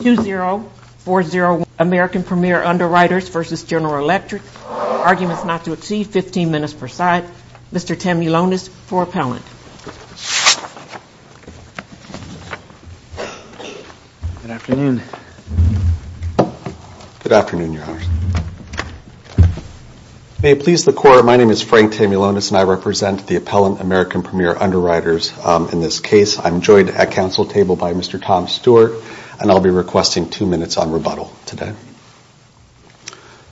2040 American Premier Underwriters v. General Electric. Arguments not to exceed 15 minutes per side. Mr. Tamulonis for appellant. Good afternoon. Good afternoon, Your Honors. May it please the Court, my name is Frank Tamulonis and I represent the appellant American Premier Underwriters. In this case, I'm joined at council table by Mr. Tom Stewart and I'll be requesting two minutes on rebuttal today.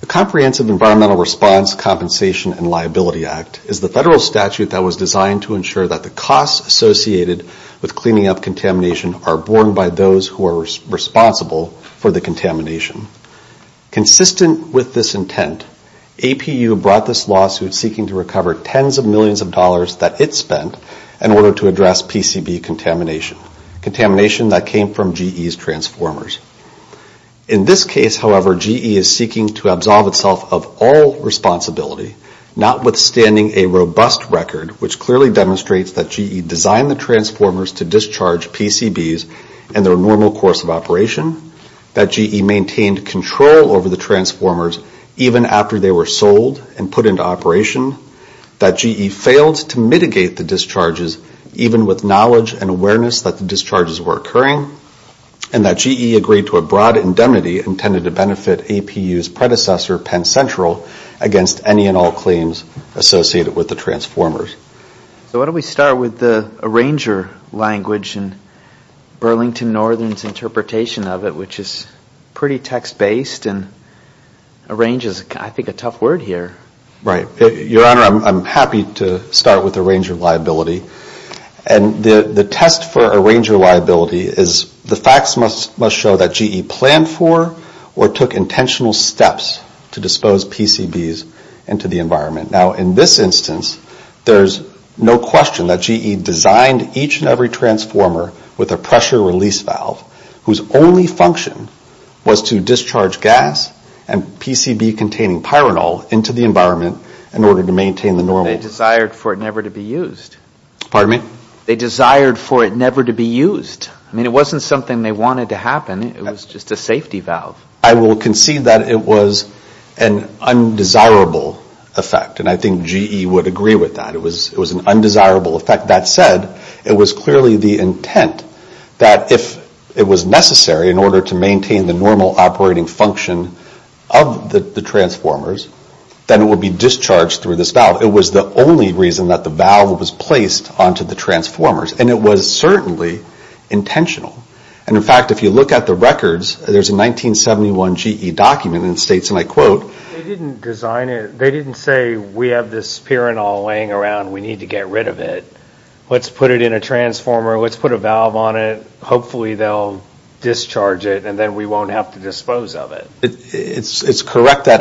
The Comprehensive Environmental Response, Compensation, and Liability Act is the federal statute that was designed to ensure that the costs associated with cleaning up contamination are borne by those who are responsible for the contamination. Consistent with this intent, APU brought this lawsuit seeking to recover tens of millions of dollars that it spent in order to clean up contamination. In this case, however, GE is seeking to absolve itself of all responsibility, notwithstanding a robust record which clearly demonstrates that GE designed the transformers to discharge PCBs in their normal course of operation. That GE maintained control over the transformers even after they were sold and put into operation. That GE failed to mitigate the discharges even with knowledge and awareness that the discharges were occurring. And that GE agreed to a broad indemnity intended to benefit APU's predecessor, Penn Central, against any and all claims associated with the transformers. So why don't we start with the arranger language and Burlington Northern's interpretation of it, which is pretty text-based. Arrange is, I think, a tough word here. Arrange is, I think, a tough word here. Arrange is, I think, a tough word here. It's correct that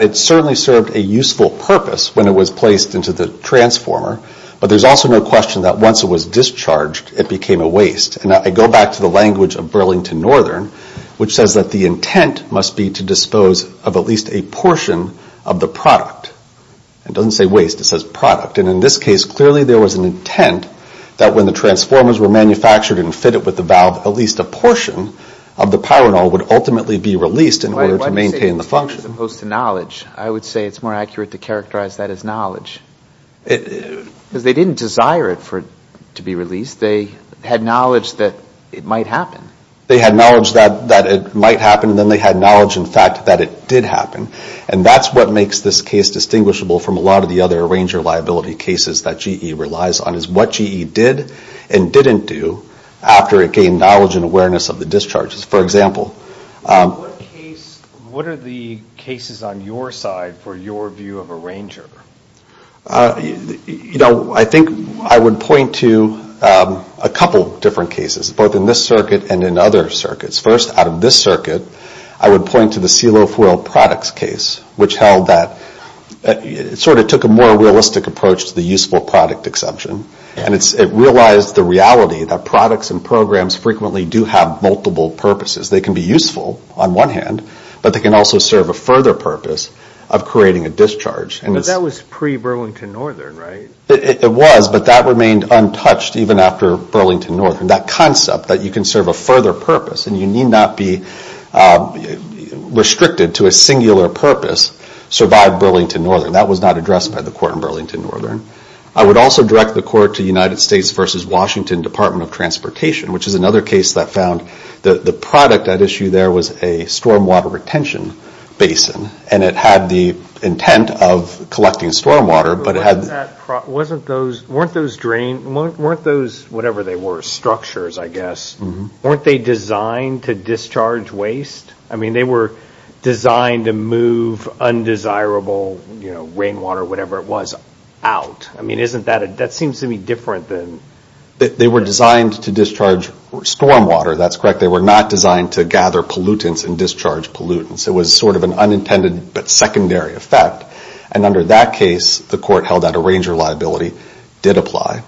it certainly served a useful purpose when it was placed into the transformer, but there's also no question that once it was discharged, it became a waste. And I go back to the language of Burlington Northern, which says that the intent must be to dispose of at least a portion of the product. It doesn't say waste, it says product. It doesn't say waste as opposed to knowledge. I would say it's more accurate to characterize that as knowledge. Because they didn't desire it to be released, they had knowledge that it might happen. They had knowledge that it might happen, and then they had knowledge, in fact, that it did happen. And that's what makes this case distinguishable from a lot of the other arranger liability cases that GE relies on. It's what GE did and didn't do after it gained knowledge and awareness of the discharges. What are the cases on your side for your view of arranger? I think I would point to a couple different cases, both in this circuit and in other circuits. First, out of this circuit, I would point to the seal of oil products case, which held that it sort of took a more realistic approach to the useful product exception. And it realized the reality that products and programs frequently do have multiple purposes. They can be useful on one hand, but they can also serve a further purpose of creating a discharge. But that was pre Burlington Northern, right? It was, but that remained untouched even after Burlington Northern. That concept that you can serve a further purpose and you need not be restricted to a singular purpose survived Burlington Northern. That was not addressed by the court in Burlington Northern. I would also direct the court to United States v. Washington Department of Transportation, which is another case that found the product at issue there was a storm water retention basin. And it had the intent of collecting storm water, but it had... Weren't those whatever they were, structures, I guess, weren't they designed to discharge waste? I mean, they were designed to move undesirable rainwater, whatever it was, out. I mean, that seems to be different than... They were designed to discharge storm water, that's correct. They were not designed to gather pollutants and discharge pollutants. It was sort of an unintended but secondary effect. And under that case, the court held that arranger liability did apply.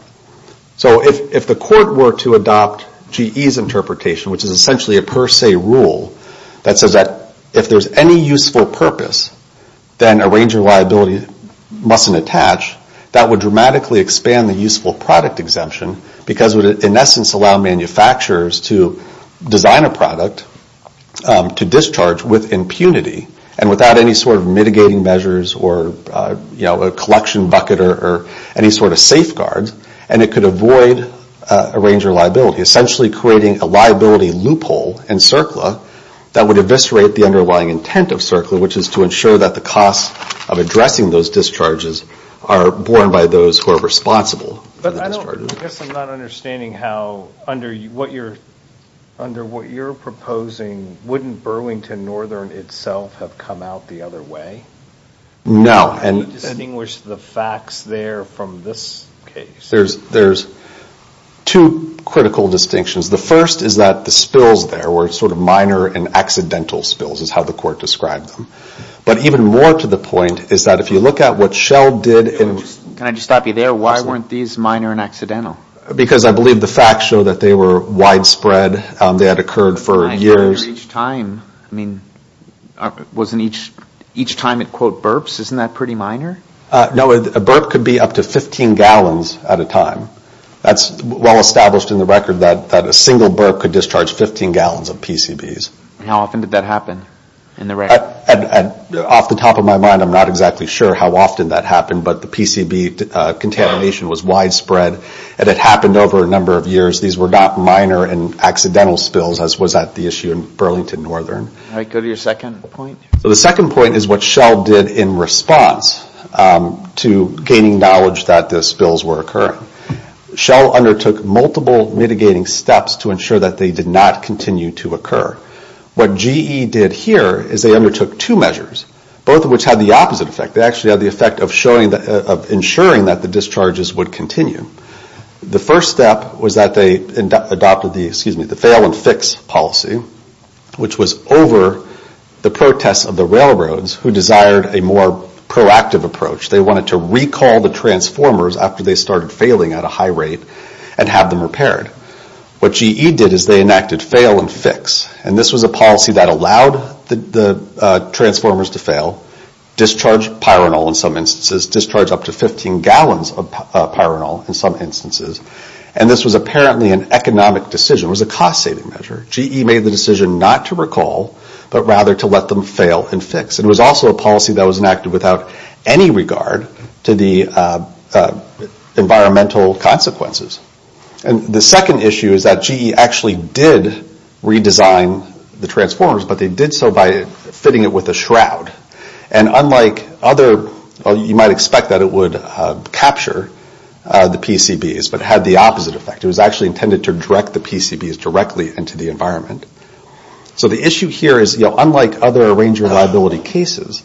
So if the court were to adopt GE's interpretation, which is essentially a per se rule, that says that if there's any useful purpose, then arranger liability mustn't attach. That would dramatically expand the useful product exemption because it would in essence allow manufacturers to design a product to discharge with impunity. And without any sort of mitigating measures or a collection bucket or any sort of safeguards. And it could avoid arranger liability, essentially creating a liability loophole in CERCLA that would eviscerate the underlying intent of CERCLA, which is to ensure that the cost of addressing those discharges are borne by those who are responsible for the discharges. But I guess I'm not understanding how under what you're proposing, wouldn't Burlington Northern itself have come out the other way? No. Can you distinguish the facts there from this case? There's two critical distinctions. The first is that the spills there were sort of minor and accidental spills is how the court described them. But even more to the point is that if you look at what Shell did... Can I just stop you there? Why weren't these minor and accidental? Because I believe the facts show that they were widespread. They had occurred for years. Was each time it quote burps? Isn't that pretty minor? No. A burp could be up to 15 gallons at a time. That's well established in the record that a single burp could discharge 15 gallons of PCBs. How often did that happen in the record? Off the top of my mind, I'm not exactly sure how often that happened, but the PCB contamination was widespread and it happened over a number of years. These were not minor and accidental spills as was at the issue in Burlington Northern. The second point is what Shell did in response to gaining knowledge that the spills were occurring. Shell undertook multiple mitigating steps to ensure that they did not continue to occur. What GE did here is they undertook two measures, both of which had the opposite effect. They actually had the effect of ensuring that the discharges would continue. The first step was that they adopted the fail and fix policy, which was over the protests of the railroads who desired a more proactive approach. They wanted to recall the transformers after they started failing at a high rate and have them repaired. What GE did is they enacted fail and fix. This was a policy that allowed the transformers to fail, discharge pyranol in some instances, discharge up to 15 gallons of pyranol in some instances. This was apparently an economic decision. It was a cost saving measure. GE made the decision not to recall, but rather to let them fail and fix. It was also a policy that was enacted without any regard to the environmental consequences. The second issue is that GE actually did redesign the transformers, but they did so by fitting it with a shroud. Unlike other, you might expect that it would capture the PCBs, but it had the opposite effect. It was actually intended to direct the PCBs directly into the environment. The issue here is, unlike other arranger reliability cases,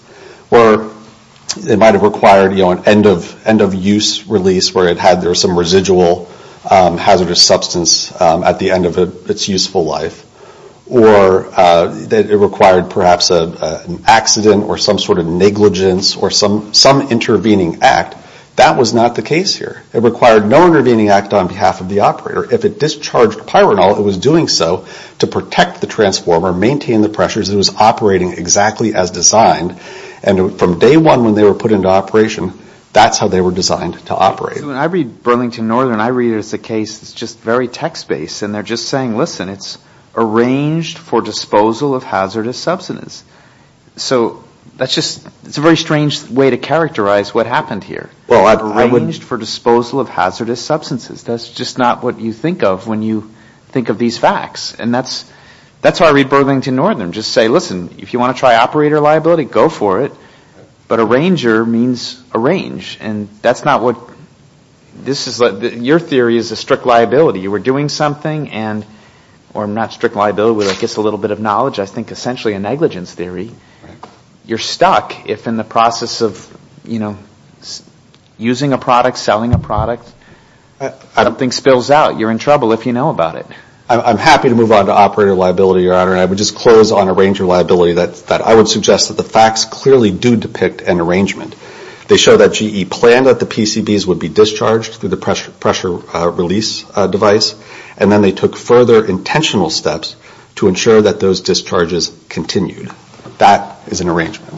where it might have required an end of use release, where there was some residual hazardous substance at the end of its useful life, or that it required perhaps an accident or some sort of negligence or some intervening act, that was not the case here. It required no intervening act on behalf of the operator. If it discharged pyranol, it was doing so to protect the transformer, maintain the pressures, it was operating exactly as designed, and from day one when they were put into operation, that's how they were designed to operate. So when I read Burlington Northern, I read it as a case that's just very text-based, and they're just saying, listen, it's arranged for disposal of hazardous substances. So that's just, it's a very strange way to characterize what happened here. Arranged for disposal of hazardous substances, that's just not what you think of when you think of these facts. And that's how I read Burlington Northern, just say, listen, if you want to try operator liability, go for it, but arranger means arrange, and that's not what, this is, your theory is a strict liability. You were doing something and, or not strict liability, but I guess a little bit of knowledge, I think essentially a negligence theory. You're stuck if in the process of, you know, using a product, selling a product, I don't think spills out, you're in trouble if you know about it. I'm happy to move on to operator liability, Your Honor, and I would just close on arranger liability, that I would suggest that the facts clearly do depict an arrangement. They show that GE planned that the PCBs would be discharged through the pressure release device, and then they took further intentional steps to ensure that those discharges continued. That is an arrangement.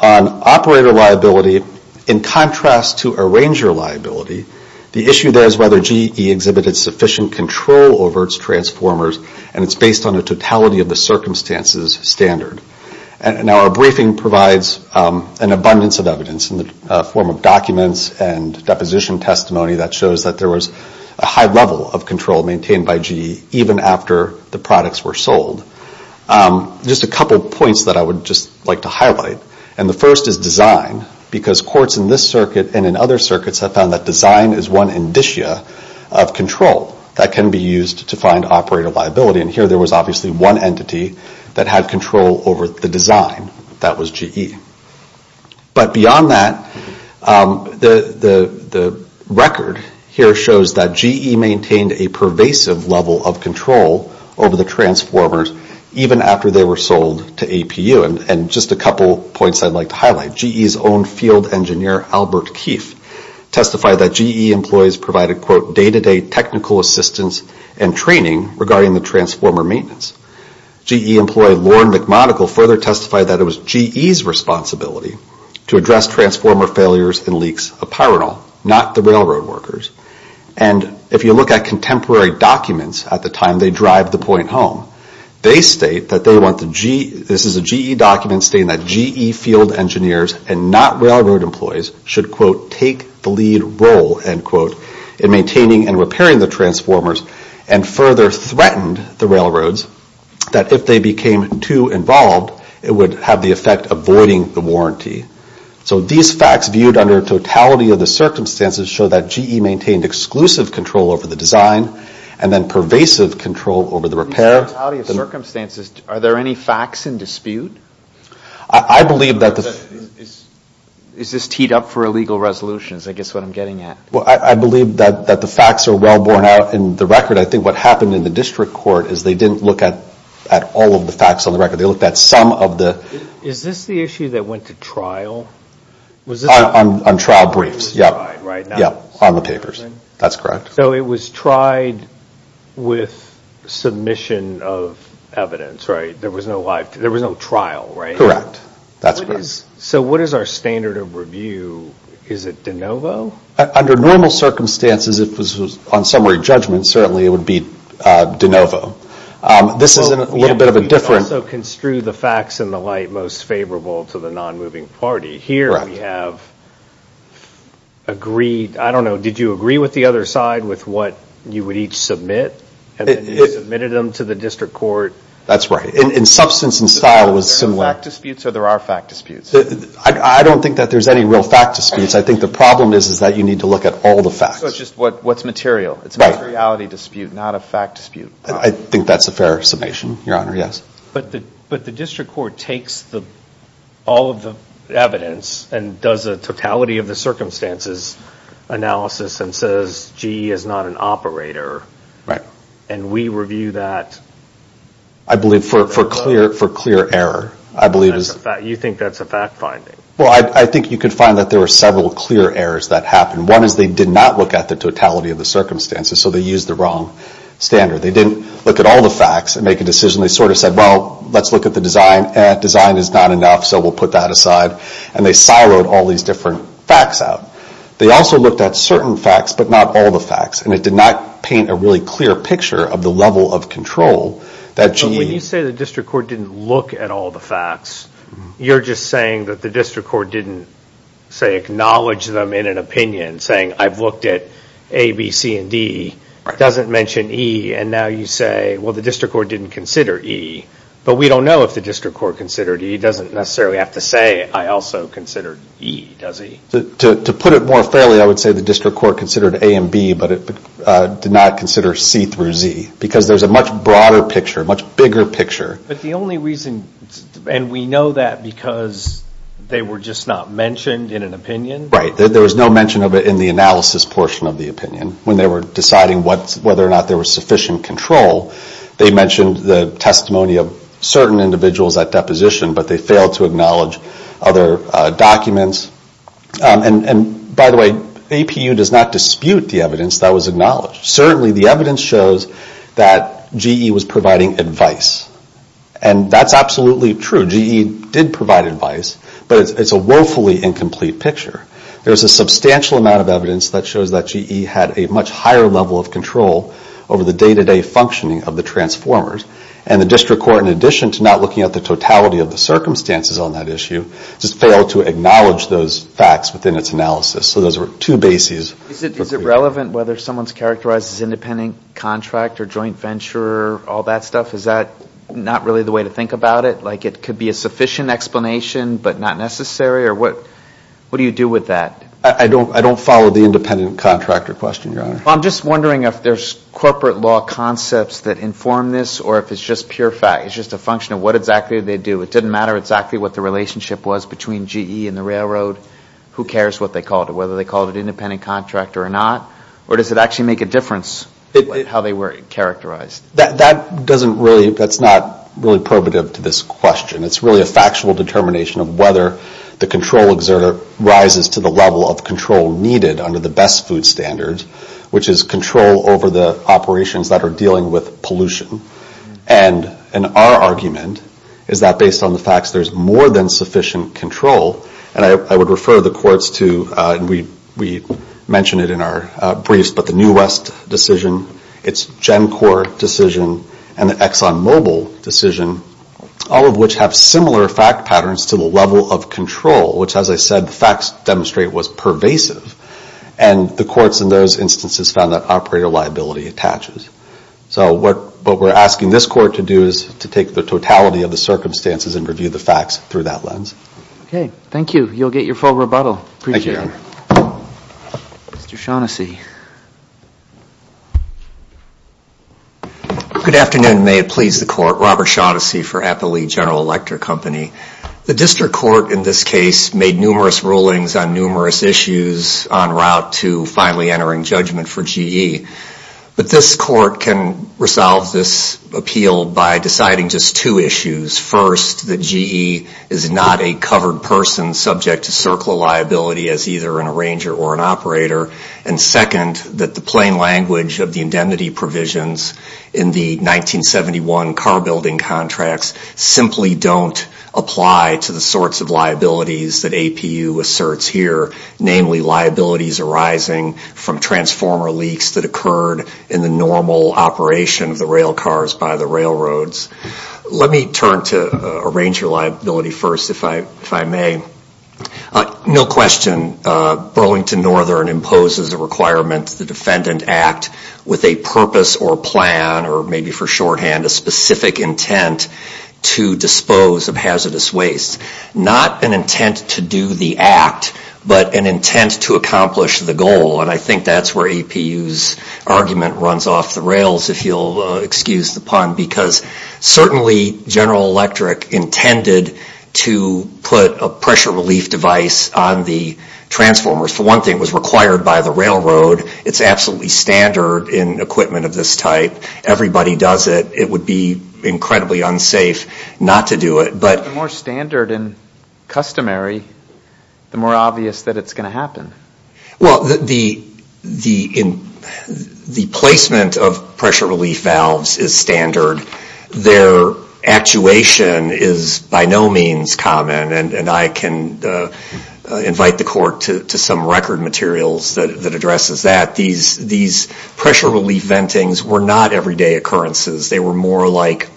On operator liability, in contrast to arranger liability, the issue there is whether GE exhibited sufficient control over its transformers, and it's based on a totality of the circumstances standard. Now, our briefing provides an abundance of evidence in the form of documents and deposition testimony that shows that there was a high level of control maintained by GE, even after the products were sold. Just a couple points that I would just like to highlight, and the first is design, because courts in this circuit and in other circuits have found that design is one indicia of control that can be used to find operator liability, and here there was obviously one entity that had control over the design. That was GE. But beyond that, the record here shows that GE maintained a pervasive level of control over the transformers, even after they were sold to APU, and just a couple points I'd like to highlight. One is that GE's own field engineer, Albert Keefe, testified that GE employees provided quote, day-to-day technical assistance and training regarding the transformer maintenance. GE employee, Lauren McMonagle, further testified that it was GE's responsibility to address transformer failures and leaks of Pyrenol, not the railroad workers, and if you look at contemporary documents at the time they drive the point home, they state that they want the GE, this is a GE document stating that GE field engineers and not railroad employees should quote, take the lead role, end quote, in maintaining and repairing the transformers, and further threatened the railroads, that if they became too involved, it would have the effect of voiding the warranty. So these facts viewed under totality of the circumstances show that GE maintained exclusive control over the design, and then pervasive control over the repair. Are there any facts in dispute? I believe that the facts are well borne out in the record. I think what happened in the district court is they didn't look at all of the facts on the record, they looked at some of the... Is this the issue that went to trial? On trial briefs, yeah, on the papers, that's correct. So it was tried with submission of evidence, right? There was no trial, right? Correct, that's correct. So what is our standard of review? Is it de novo? Under normal circumstances, if this was on summary judgment, certainly it would be de novo. This is a little bit of a different... So there are facts disputes, or there are fact disputes? I don't think that there's any real fact disputes. I think the problem is that you need to look at all the facts. So it's just what's material. It's a materiality dispute, not a fact dispute. But the district court takes all of the evidence and does a totality of the circumstances analysis and says, GE is not an operator, and we review that... I believe for clear error. I think you could find that there were several clear errors that happened. One is they did not look at the totality of the circumstances, so they used the wrong standard. They didn't look at all the facts and make a decision. They sort of said, well, let's look at the design. Design is not enough, so we'll put that aside, and they siloed all these different facts out. They also looked at certain facts, but not all the facts, and it did not paint a really clear picture of the level of control that GE... But when you say the district court didn't look at all the facts, you're just saying that the district court didn't, say, now you say, well, the district court didn't consider E, but we don't know if the district court considered E. It doesn't necessarily have to say, I also considered E, does it? To put it more fairly, I would say the district court considered A and B, but it did not consider C through Z, because there's a much broader picture, a much bigger picture. But the only reason, and we know that because they were just not mentioned in an opinion? Right, there was no mention of it in the analysis portion of the opinion when they were deciding whether or not there was sufficient control. They mentioned the testimony of certain individuals at deposition, but they failed to acknowledge other documents. And by the way, APU does not dispute the evidence that was acknowledged. Certainly the evidence shows that GE was providing advice, and that's absolutely true. GE did provide advice, but it's a woefully incomplete picture. There's a substantial amount of evidence that shows that GE had a much higher level of control over the day-to-day functioning of the transformers. And the district court, in addition to not looking at the totality of the circumstances on that issue, just failed to acknowledge those facts within its analysis. So those are two bases. Is it relevant whether someone's characterized as independent contract or joint venture, all that stuff? Is that not really the way to think about it? Like it could be a sufficient explanation, but not necessary, or what do you do with that? I don't follow the independent contractor question, Your Honor. Well, I'm just wondering if there's corporate law concepts that inform this, or if it's just pure fact, it's just a function of what exactly they do. It didn't matter exactly what the relationship was between GE and the railroad. Who cares what they called it, whether they called it independent contractor or not, or does it actually make a difference how they were characterized? That doesn't really, that's not really probative to this question. It's really a factual determination of whether the control exertor rises to the level of control needed under the best food standard, which is control over the operations that are dealing with pollution. And our argument is that based on the facts, there's more than sufficient control. And I would refer the courts to, and we mention it in our briefs, but the New West decision, its GenCorp decision, and the ExxonMobil decision, all of which have sufficient control. But they have similar fact patterns to the level of control, which as I said, the facts demonstrate was pervasive. And the courts in those instances found that operator liability attaches. So what we're asking this court to do is to take the totality of the circumstances and review the facts through that lens. Okay, thank you. You'll get your full rebuttal. Mr. Shaughnessy. Good afternoon, may it please the court. Robert Shaughnessy for Applee General Electric Company. The district court in this case made numerous rulings on numerous issues en route to finally entering judgment for GE. But this court can resolve this appeal by deciding just two issues. First, that GE is not a covered person subject to circular liability as either an arranger or an operator. And second, that the plain language of the indemnity provisions in the 1971 car building contracts simply don't apply to the sorts of liabilities that APU asserts here. Namely, liabilities arising from transformer leaks that occurred in the normal operation of the rail cars by the railroads. Let me turn to arranger liability first, if I may. No question, Burlington Northern imposes a requirement to the defendant act with a purpose or plan or maybe for shorthand, a specific intent to dispose of hazardous waste. Not an intent to do the act, but an intent to accomplish the goal. And I think that's where APU's argument runs off the rails, if you'll excuse the pun. Because certainly General Electric intended to put a pressure relief device on the transformers. For one thing, it was required by the railroad. It's absolutely standard in equipment of this type. Everybody does it. It would be incredibly unsafe not to do it. But the more standard and customary, the more obvious that it's going to happen. Well, the placement of pressure relief valves is standard. Their actuation is by no means common. And I can invite the court to some record materials that addresses that. These pressure relief ventings were not everyday occurrences. They were more like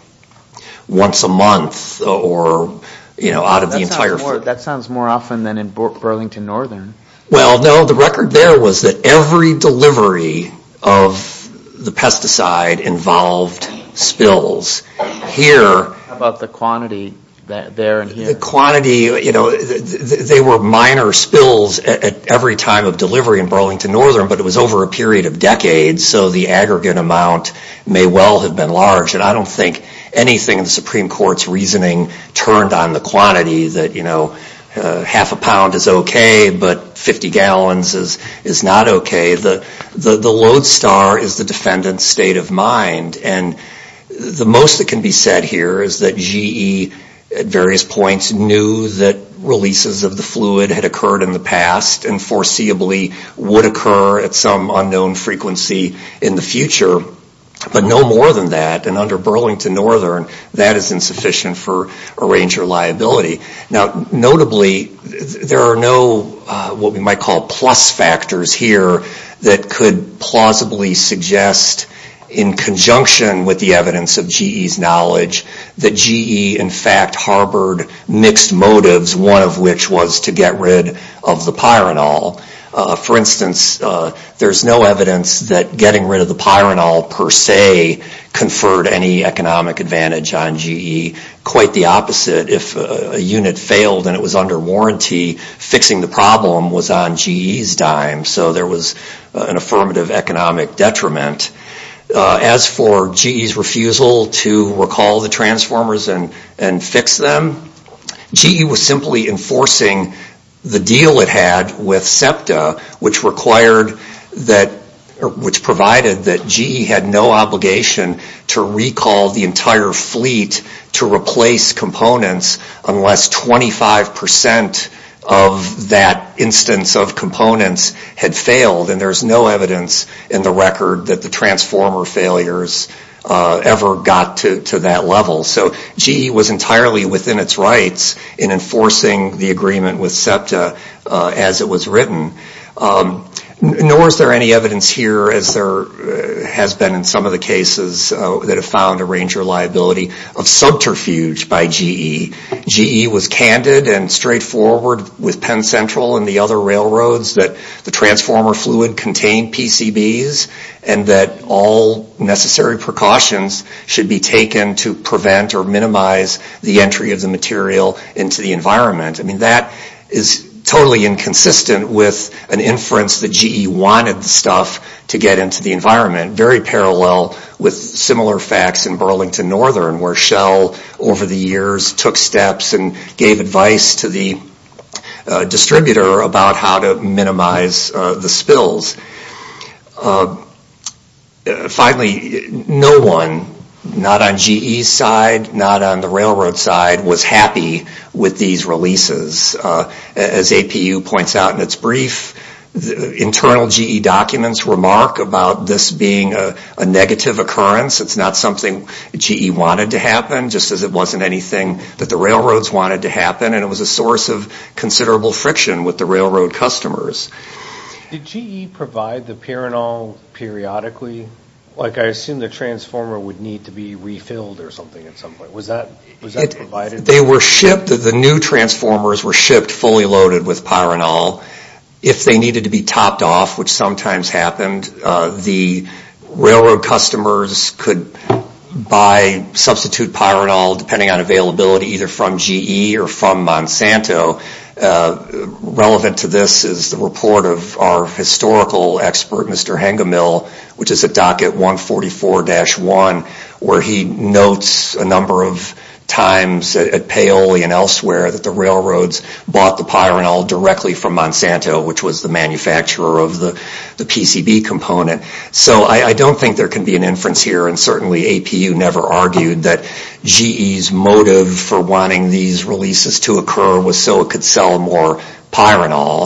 once a month. That sounds more often than in Burlington Northern. Well, no, the record there was that every delivery of the pesticide involved spills. How about the quantity there and here? They were minor spills at every time of delivery in Burlington Northern, but it was over a period of decades. So the aggregate amount may well have been large. And I don't think anything in the Supreme Court's reasoning turned on the quantity. You know, half a pound is okay, but 50 gallons is not okay. The lodestar is the defendant's state of mind. And the most that can be said here is that GE at various points knew that releases of the fluid had occurred in the past and foreseeably would occur at some unknown frequency in the future. But no more than that, and under Burlington Northern, that is insufficient for arranger liability. Now, notably, there are no what we might call plus factors here that could plausibly suggest in conjunction with the evidence of GE's knowledge that GE in fact harbored mixed motives, one of which was to get rid of the pyrenol. For instance, there's no evidence that getting rid of the pyrenol per se conferred any economic advantage on GE. Quite the opposite, if a unit failed and it was under warranty, fixing the problem was on GE's dime. So there was an affirmative economic detriment. As for GE's refusal to recall the transformers and fix them, GE was simply enforcing the deal it had with SEPTA, which provided that GE had no obligation to recall the entire fleet to replace components unless 25% of that instance of components had failed, and there's no evidence in the record that the transformer failures ever got to that level. So GE was entirely within its rights in enforcing the agreement with SEPTA as it was written. Nor is there any evidence here, as there has been in some of the cases that have found arranger liability, of subterfuge by GE. GE was candid and straightforward with Penn Central and the other railroads that the transformer fluid contained PCBs and that all necessary precautions should be taken to prevent or minimize the entry of the material into the environment. That is totally inconsistent with an inference that GE wanted the stuff to get into the environment. Very parallel with similar facts in Burlington Northern, where Shell over the years took steps and gave advice to the distributor about how to minimize the spills. Finally, no one, not on GE's side, not on the railroad side, was happy with these releases. As APU points out in its brief, internal GE documents remark about this being a negative occurrence. It's not something GE wanted to happen, just as it wasn't anything that the railroads wanted to happen, and it was a source of considerable friction with the railroad customers. Did GE provide the pyranol periodically? I assume the transformer would need to be refilled or something at some point. The new transformers were shipped fully loaded with pyranol. If they needed to be topped off, which sometimes happened, the railroad customers could buy, substitute pyranol depending on availability either from GE or from Monsanto. Relevant to this is the report of our historical expert, Mr. Hengemill, which is at docket 144-1, where he notes a number of times at Paoli and elsewhere that the railroads bought the pyranol directly from Monsanto, which was the manufacturer of the PCB component. I don't think there can be an inference here, and certainly APU never argued that GE's motive for wanting these releases to occur was so it could sell more pyranol.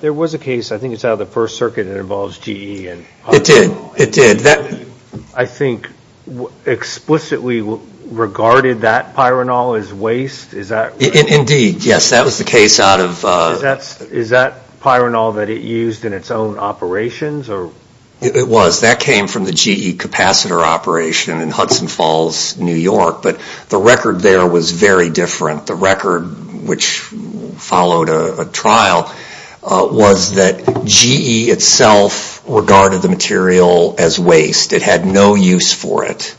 There was a case, I think it's out of the First Circuit, that involves GE. It did. I think explicitly regarded that pyranol as waste. Is that pyranol that it used in its own operations? It was. That came from the GE capacitor operation in Hudson Falls, New York, but the record there was very different. The record, which followed a trial, was that GE itself regarded the material as waste. It had no use for it.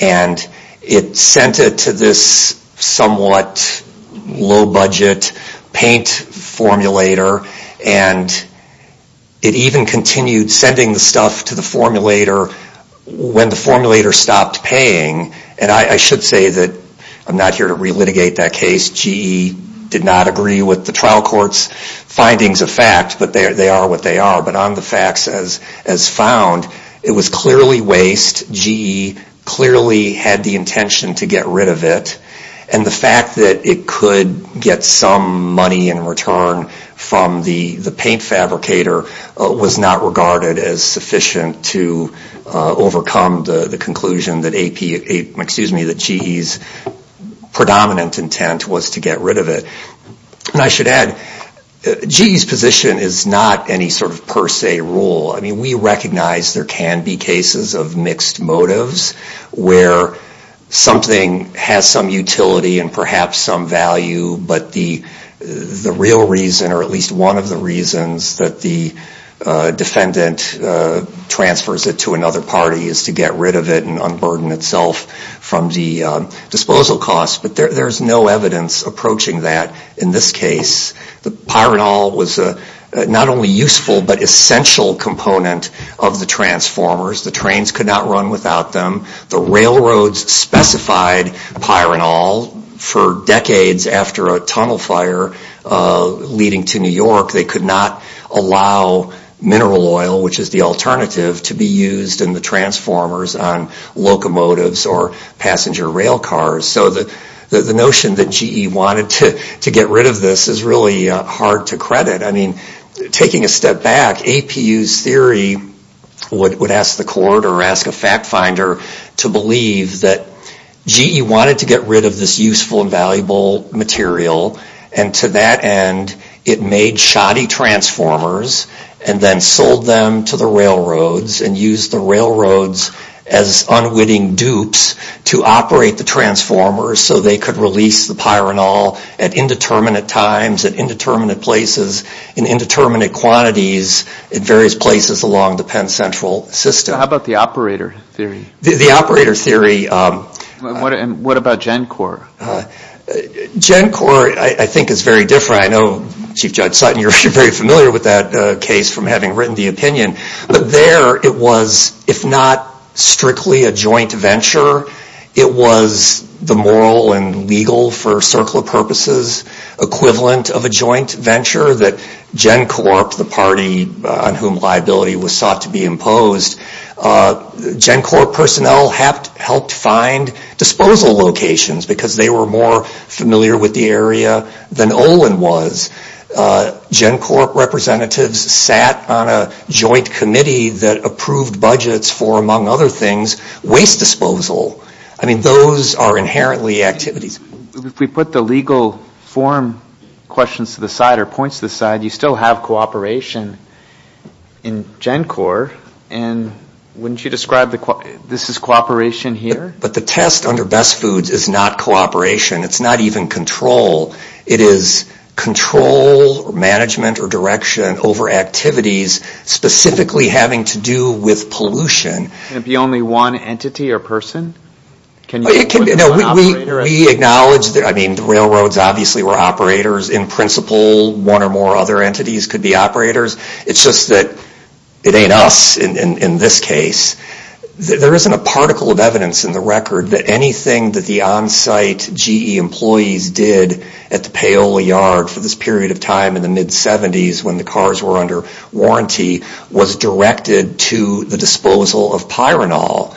It sent it to this somewhat low-budget paint formulator, and it even continued sending the stuff to the formulator when the formulator stopped paying. And I should say that I'm not here to relitigate that case. GE did not agree with the trial court's findings of fact, but they are what they are. But on the facts as found, it was clearly waste. GE clearly had the intention to get rid of it, and the fact that it could get some money in return from the paint fabricator was not regarded as sufficient to overcome the conclusion that GE's predominant intent was to get rid of it. And I should add, GE's position is not any sort of per se rule. I mean, we recognize there can be cases of mixed motives where something has some utility and perhaps some value, but the real reason, or at least one of the reasons that the defendant transfers it to another party is to get rid of it and unburden itself from the disposal costs. But there's no evidence approaching that in this case. The Pyrenol was not only a useful but essential component of the transformers. The trains could not run without them. The railroads specified Pyrenol. For decades after a tunnel fire leading to New York, they could not allow mineral oil, which is the alternative, to be used in the transformers on locomotives or passenger rail cars. So the notion that GE wanted to get rid of this is really hard to credit. I mean, taking a step back, APU's theory would ask the court or ask a fact finder to believe that GE wanted to get rid of this useful and valuable material and to that end it made shoddy transformers and then sold them to the railroads and used the railroads as unwitting dupes to operate the transformers so they could release the Pyrenol at indeterminate times, at indeterminate places, in indeterminate quantities in various places along the Penn Central system. The operator theory. And what about GenCorp? GenCorp, I think, is very different. I know Chief Judge Sutton, you're very familiar with that case from having written the opinion. But there it was, if not strictly a joint venture, it was the moral and legal, for a circle of purposes, equivalent of a joint venture that GenCorp, the party on whom liability was sought to be imposed, GenCorp personnel helped find disposal locations because they were more familiar with the area than Olin was. GenCorp representatives sat on a joint committee that approved budgets for, among other things, waste disposal. I mean, those are inherently activities. If we put the legal form questions to the side or points to the side, you still have cooperation in GenCorp and wouldn't you describe this as cooperation here? But the test under Best Foods is not cooperation. It's not even control. It is control or management or direction over activities specifically having to do with pollution. Can it be only one entity or person? We acknowledge, I mean, the railroads obviously were operators in principle. One or more other entities could be operators. It's just that it ain't us in this case. There isn't a particle of evidence in the record that anything that the on-site GE employees did at the Paola yard for this period of time in the mid-70s when the cars were under warranty was directed to the disposal of pyranol.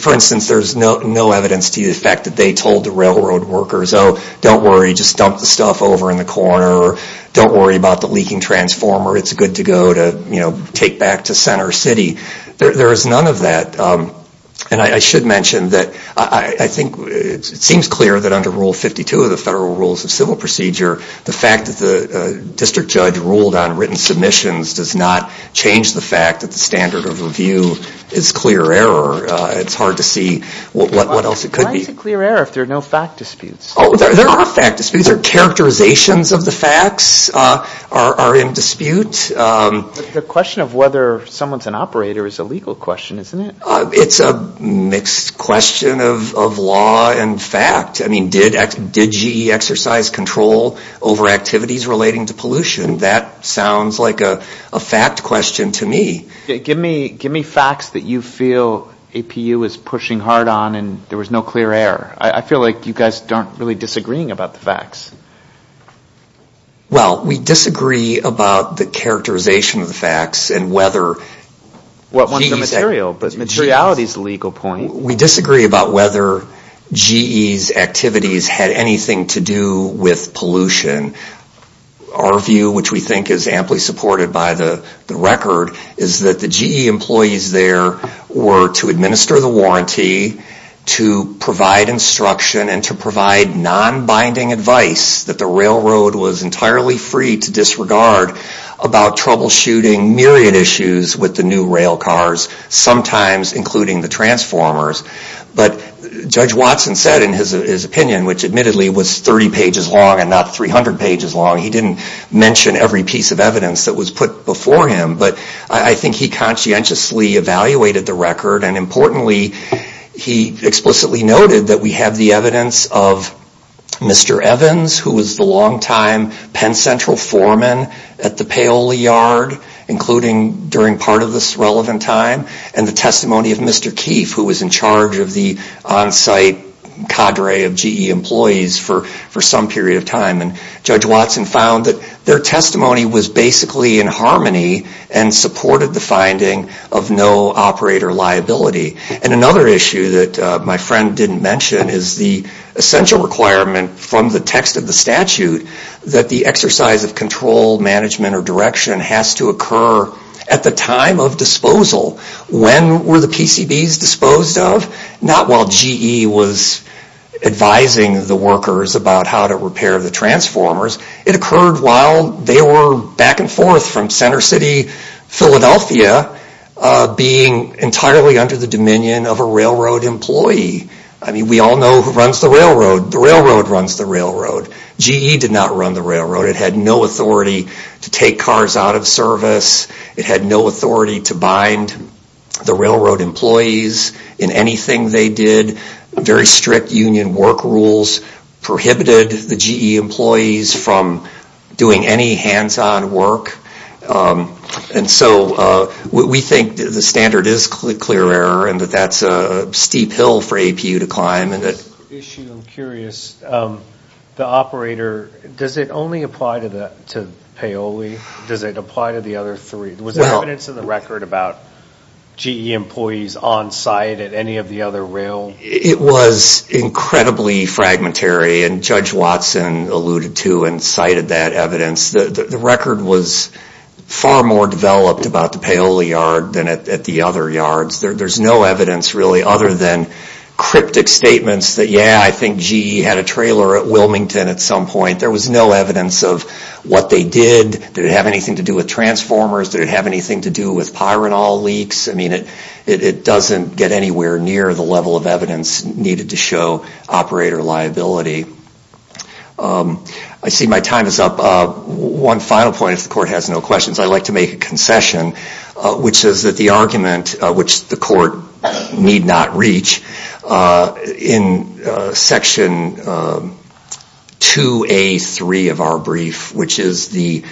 For instance, there's no evidence to the effect that they told the railroad workers, oh, don't worry, just dump the stuff over in the corner. Don't worry about the leaking transformer. It's good to go to take back to center city. There is none of that. And I should mention that I think it seems clear that under Rule 52 of the Federal Rules of Civil Procedure, the fact that the district judge ruled on written submissions does not change the fact that the standard of review is clear error. It's hard to see what else it could be. Why is it clear error if there are no fact disputes? There are fact disputes. Characterizations of the facts are in dispute. The question of whether someone is an operator is a legal question, isn't it? It's a mixed question of law and fact. Did GE exercise control over activities relating to pollution? That sounds like a fact question to me. Give me facts that you feel APU is pushing hard on and there was no clear error. I feel like you guys aren't really disagreeing about the facts. We disagree about the characterization of the facts. Materiality is the legal point. We disagree about whether GE's activities had anything to do with pollution. Our view, which we think is amply supported by the record, is that the GE employees there were to administer the warranty, to provide instruction, and to provide non-binding advice that the railroad was entirely free to disregard about troubleshooting myriad issues with the new rail cars, sometimes including the transformers. But Judge Watson said in his opinion, which admittedly was 30 pages long and not 300 pages long, he didn't mention every piece of evidence that was put before him, but I think he conscientiously evaluated the record and importantly, he explicitly noted that we have the evidence of Mr. Evans, who was the long-time Penn Central foreman at the Paoli yard, including during part of this relevant time, and the testimony of Mr. Keefe, who was in charge of the on-site cadre of GE employees for some period of time. And Judge Watson found that their testimony was basically in harmony and supported the finding of no operator liability. And another issue that my friend didn't mention is the essential requirement from the text of the statute that the exercise of control, management, or direction has to occur at the time of disposal. When were the PCBs disposed of? Not while GE was advising the workers about how to repair the transformers. It occurred while they were back and forth from Center City, Philadelphia, being entirely under the dominion of a railroad employee. We all know who runs the railroad. The railroad runs the railroad. GE did not run the railroad. It had no authority to take cars out of service. It had no authority to bind the railroad employees in anything they did. Very strict union work rules prohibited the GE employees from doing any hands-on work. And so we think the standard is clear error and that that's a steep hill for APU to climb. I'm curious, the operator, does it only apply to Paoli? Does it apply to the other three? Was there evidence in the record about GE employees on site at any of the other rail? It was incredibly fragmentary and Judge Watson alluded to and cited that evidence. The record was far more developed about the Paoli yard than at the other yards. There's no evidence really other than cryptic statements that yeah, I think GE had a trailer at Wilmington at some point. There was no evidence of what they did. Did it have anything to do with transformers? Did it have anything to do with pyranol leaks? It doesn't get anywhere near the level of evidence needed to show operator liability. I see my time is up. One final point, if the court has no questions, I'd like to make a concession, which is that the argument which the court need not reach in section 2A3 of our brief, which is the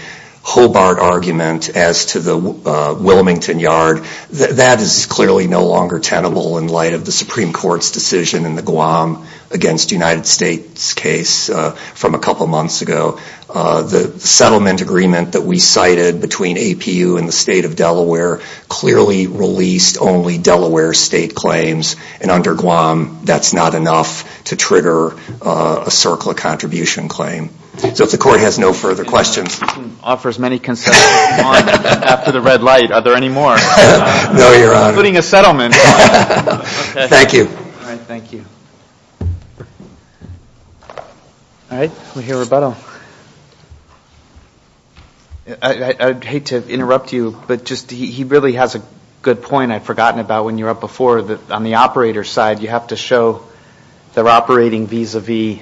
Hobart argument as to the Wilmington yard, that is clearly no longer tenable in light of the Supreme Court's decision in the Guam against United States case from a couple months ago. The settlement agreement that we cited between APU and the state of Delaware clearly released only Delaware state claims and under Guam that's not enough to trigger a circle of contribution claim. So if the court has no further questions. No, Your Honor. Thank you. I'd hate to interrupt you, but he really has a good point I'd forgotten about when you were up before, so on the operator side you have to show they're operating vis-a-vis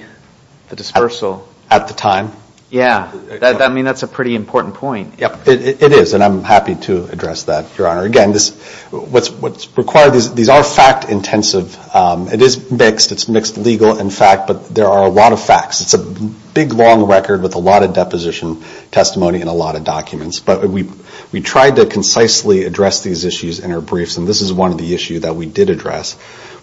the dispersal. At the time? Yeah, I mean that's a pretty important point. It is and I'm happy to address that, Your Honor. Again, what's required, these are fact intensive, it is mixed, it's mixed legal and fact, but there are a lot of facts, it's a big long record with a lot of deposition testimony and a lot of documents. But we tried to concisely address these issues in our briefs and this is one of the issues that we did address,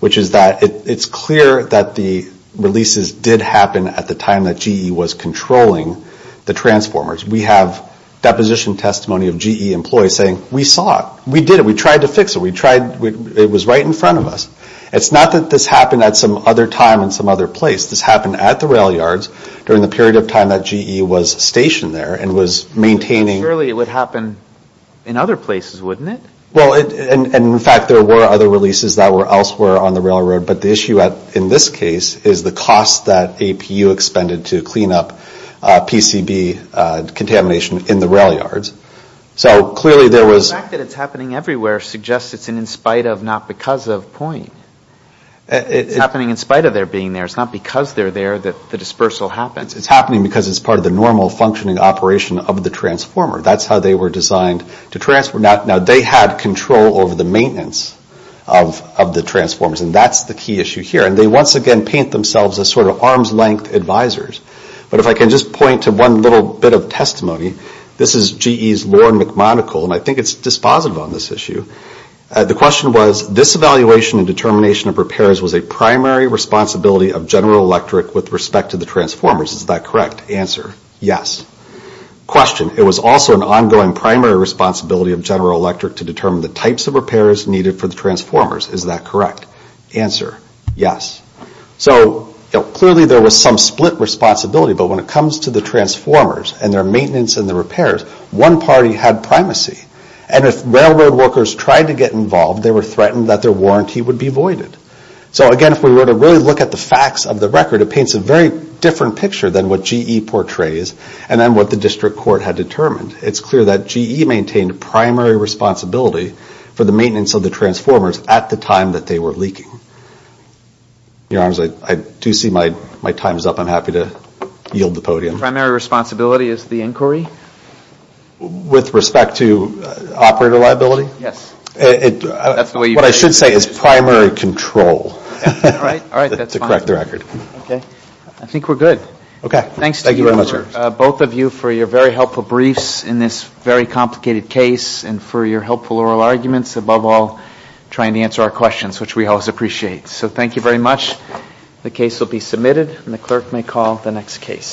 which is that it's clear that the releases did happen at the time that GE was controlling the transformers. We have deposition testimony of GE employees saying we saw it, we did it, we tried to fix it, it was right in front of us. It's not that this happened at some other time in some other place. This happened at the rail yards during the period of time that GE was stationed there and was maintaining. Surely it would happen in other places, wouldn't it? Well, and in fact there were other releases that were elsewhere on the railroad, but the issue in this case is the cost that APU expended to clean up PCB contamination in the rail yards. So clearly there was. But the fact that it's happening everywhere suggests it's in spite of, not because of point. It's happening in spite of their being there, it's not because they're there that the dispersal happens. It's happening because it's part of the normal functioning operation of the transformer. Now they had control over the maintenance of the transformers and that's the key issue here. And they once again paint themselves as sort of arm's length advisors. But if I can just point to one little bit of testimony, this is GE's Lorne McMonagle and I think it's dispositive on this issue. The question was, this evaluation and determination of repairs was a primary responsibility of General Electric with respect to the transformers. Is that correct? Answer, yes. Question, it was also an ongoing primary responsibility of General Electric to determine the types of repairs needed for the transformers. Is that correct? Answer, yes. So clearly there was some split responsibility, but when it comes to the transformers and their maintenance and their repairs, one party had primacy and if railroad workers tried to get involved, they were threatened that their warranty would be voided. So again, if we were to really look at the facts of the record, it paints a very different picture than what GE portrays and then what the district court had determined. It's clear that GE maintained primary responsibility for the maintenance of the transformers at the time that they were leaking. Your Honors, I do see my time is up. I'm happy to yield the podium. The primary responsibility is the inquiry? With respect to operator liability? What I should say is primary control. I think we're good. Thanks to both of you for your very helpful briefs in this very complicated case and for your helpful oral arguments, above all, trying to answer our questions, which we always appreciate. So thank you very much. The case will be submitted and the clerk may call the next case.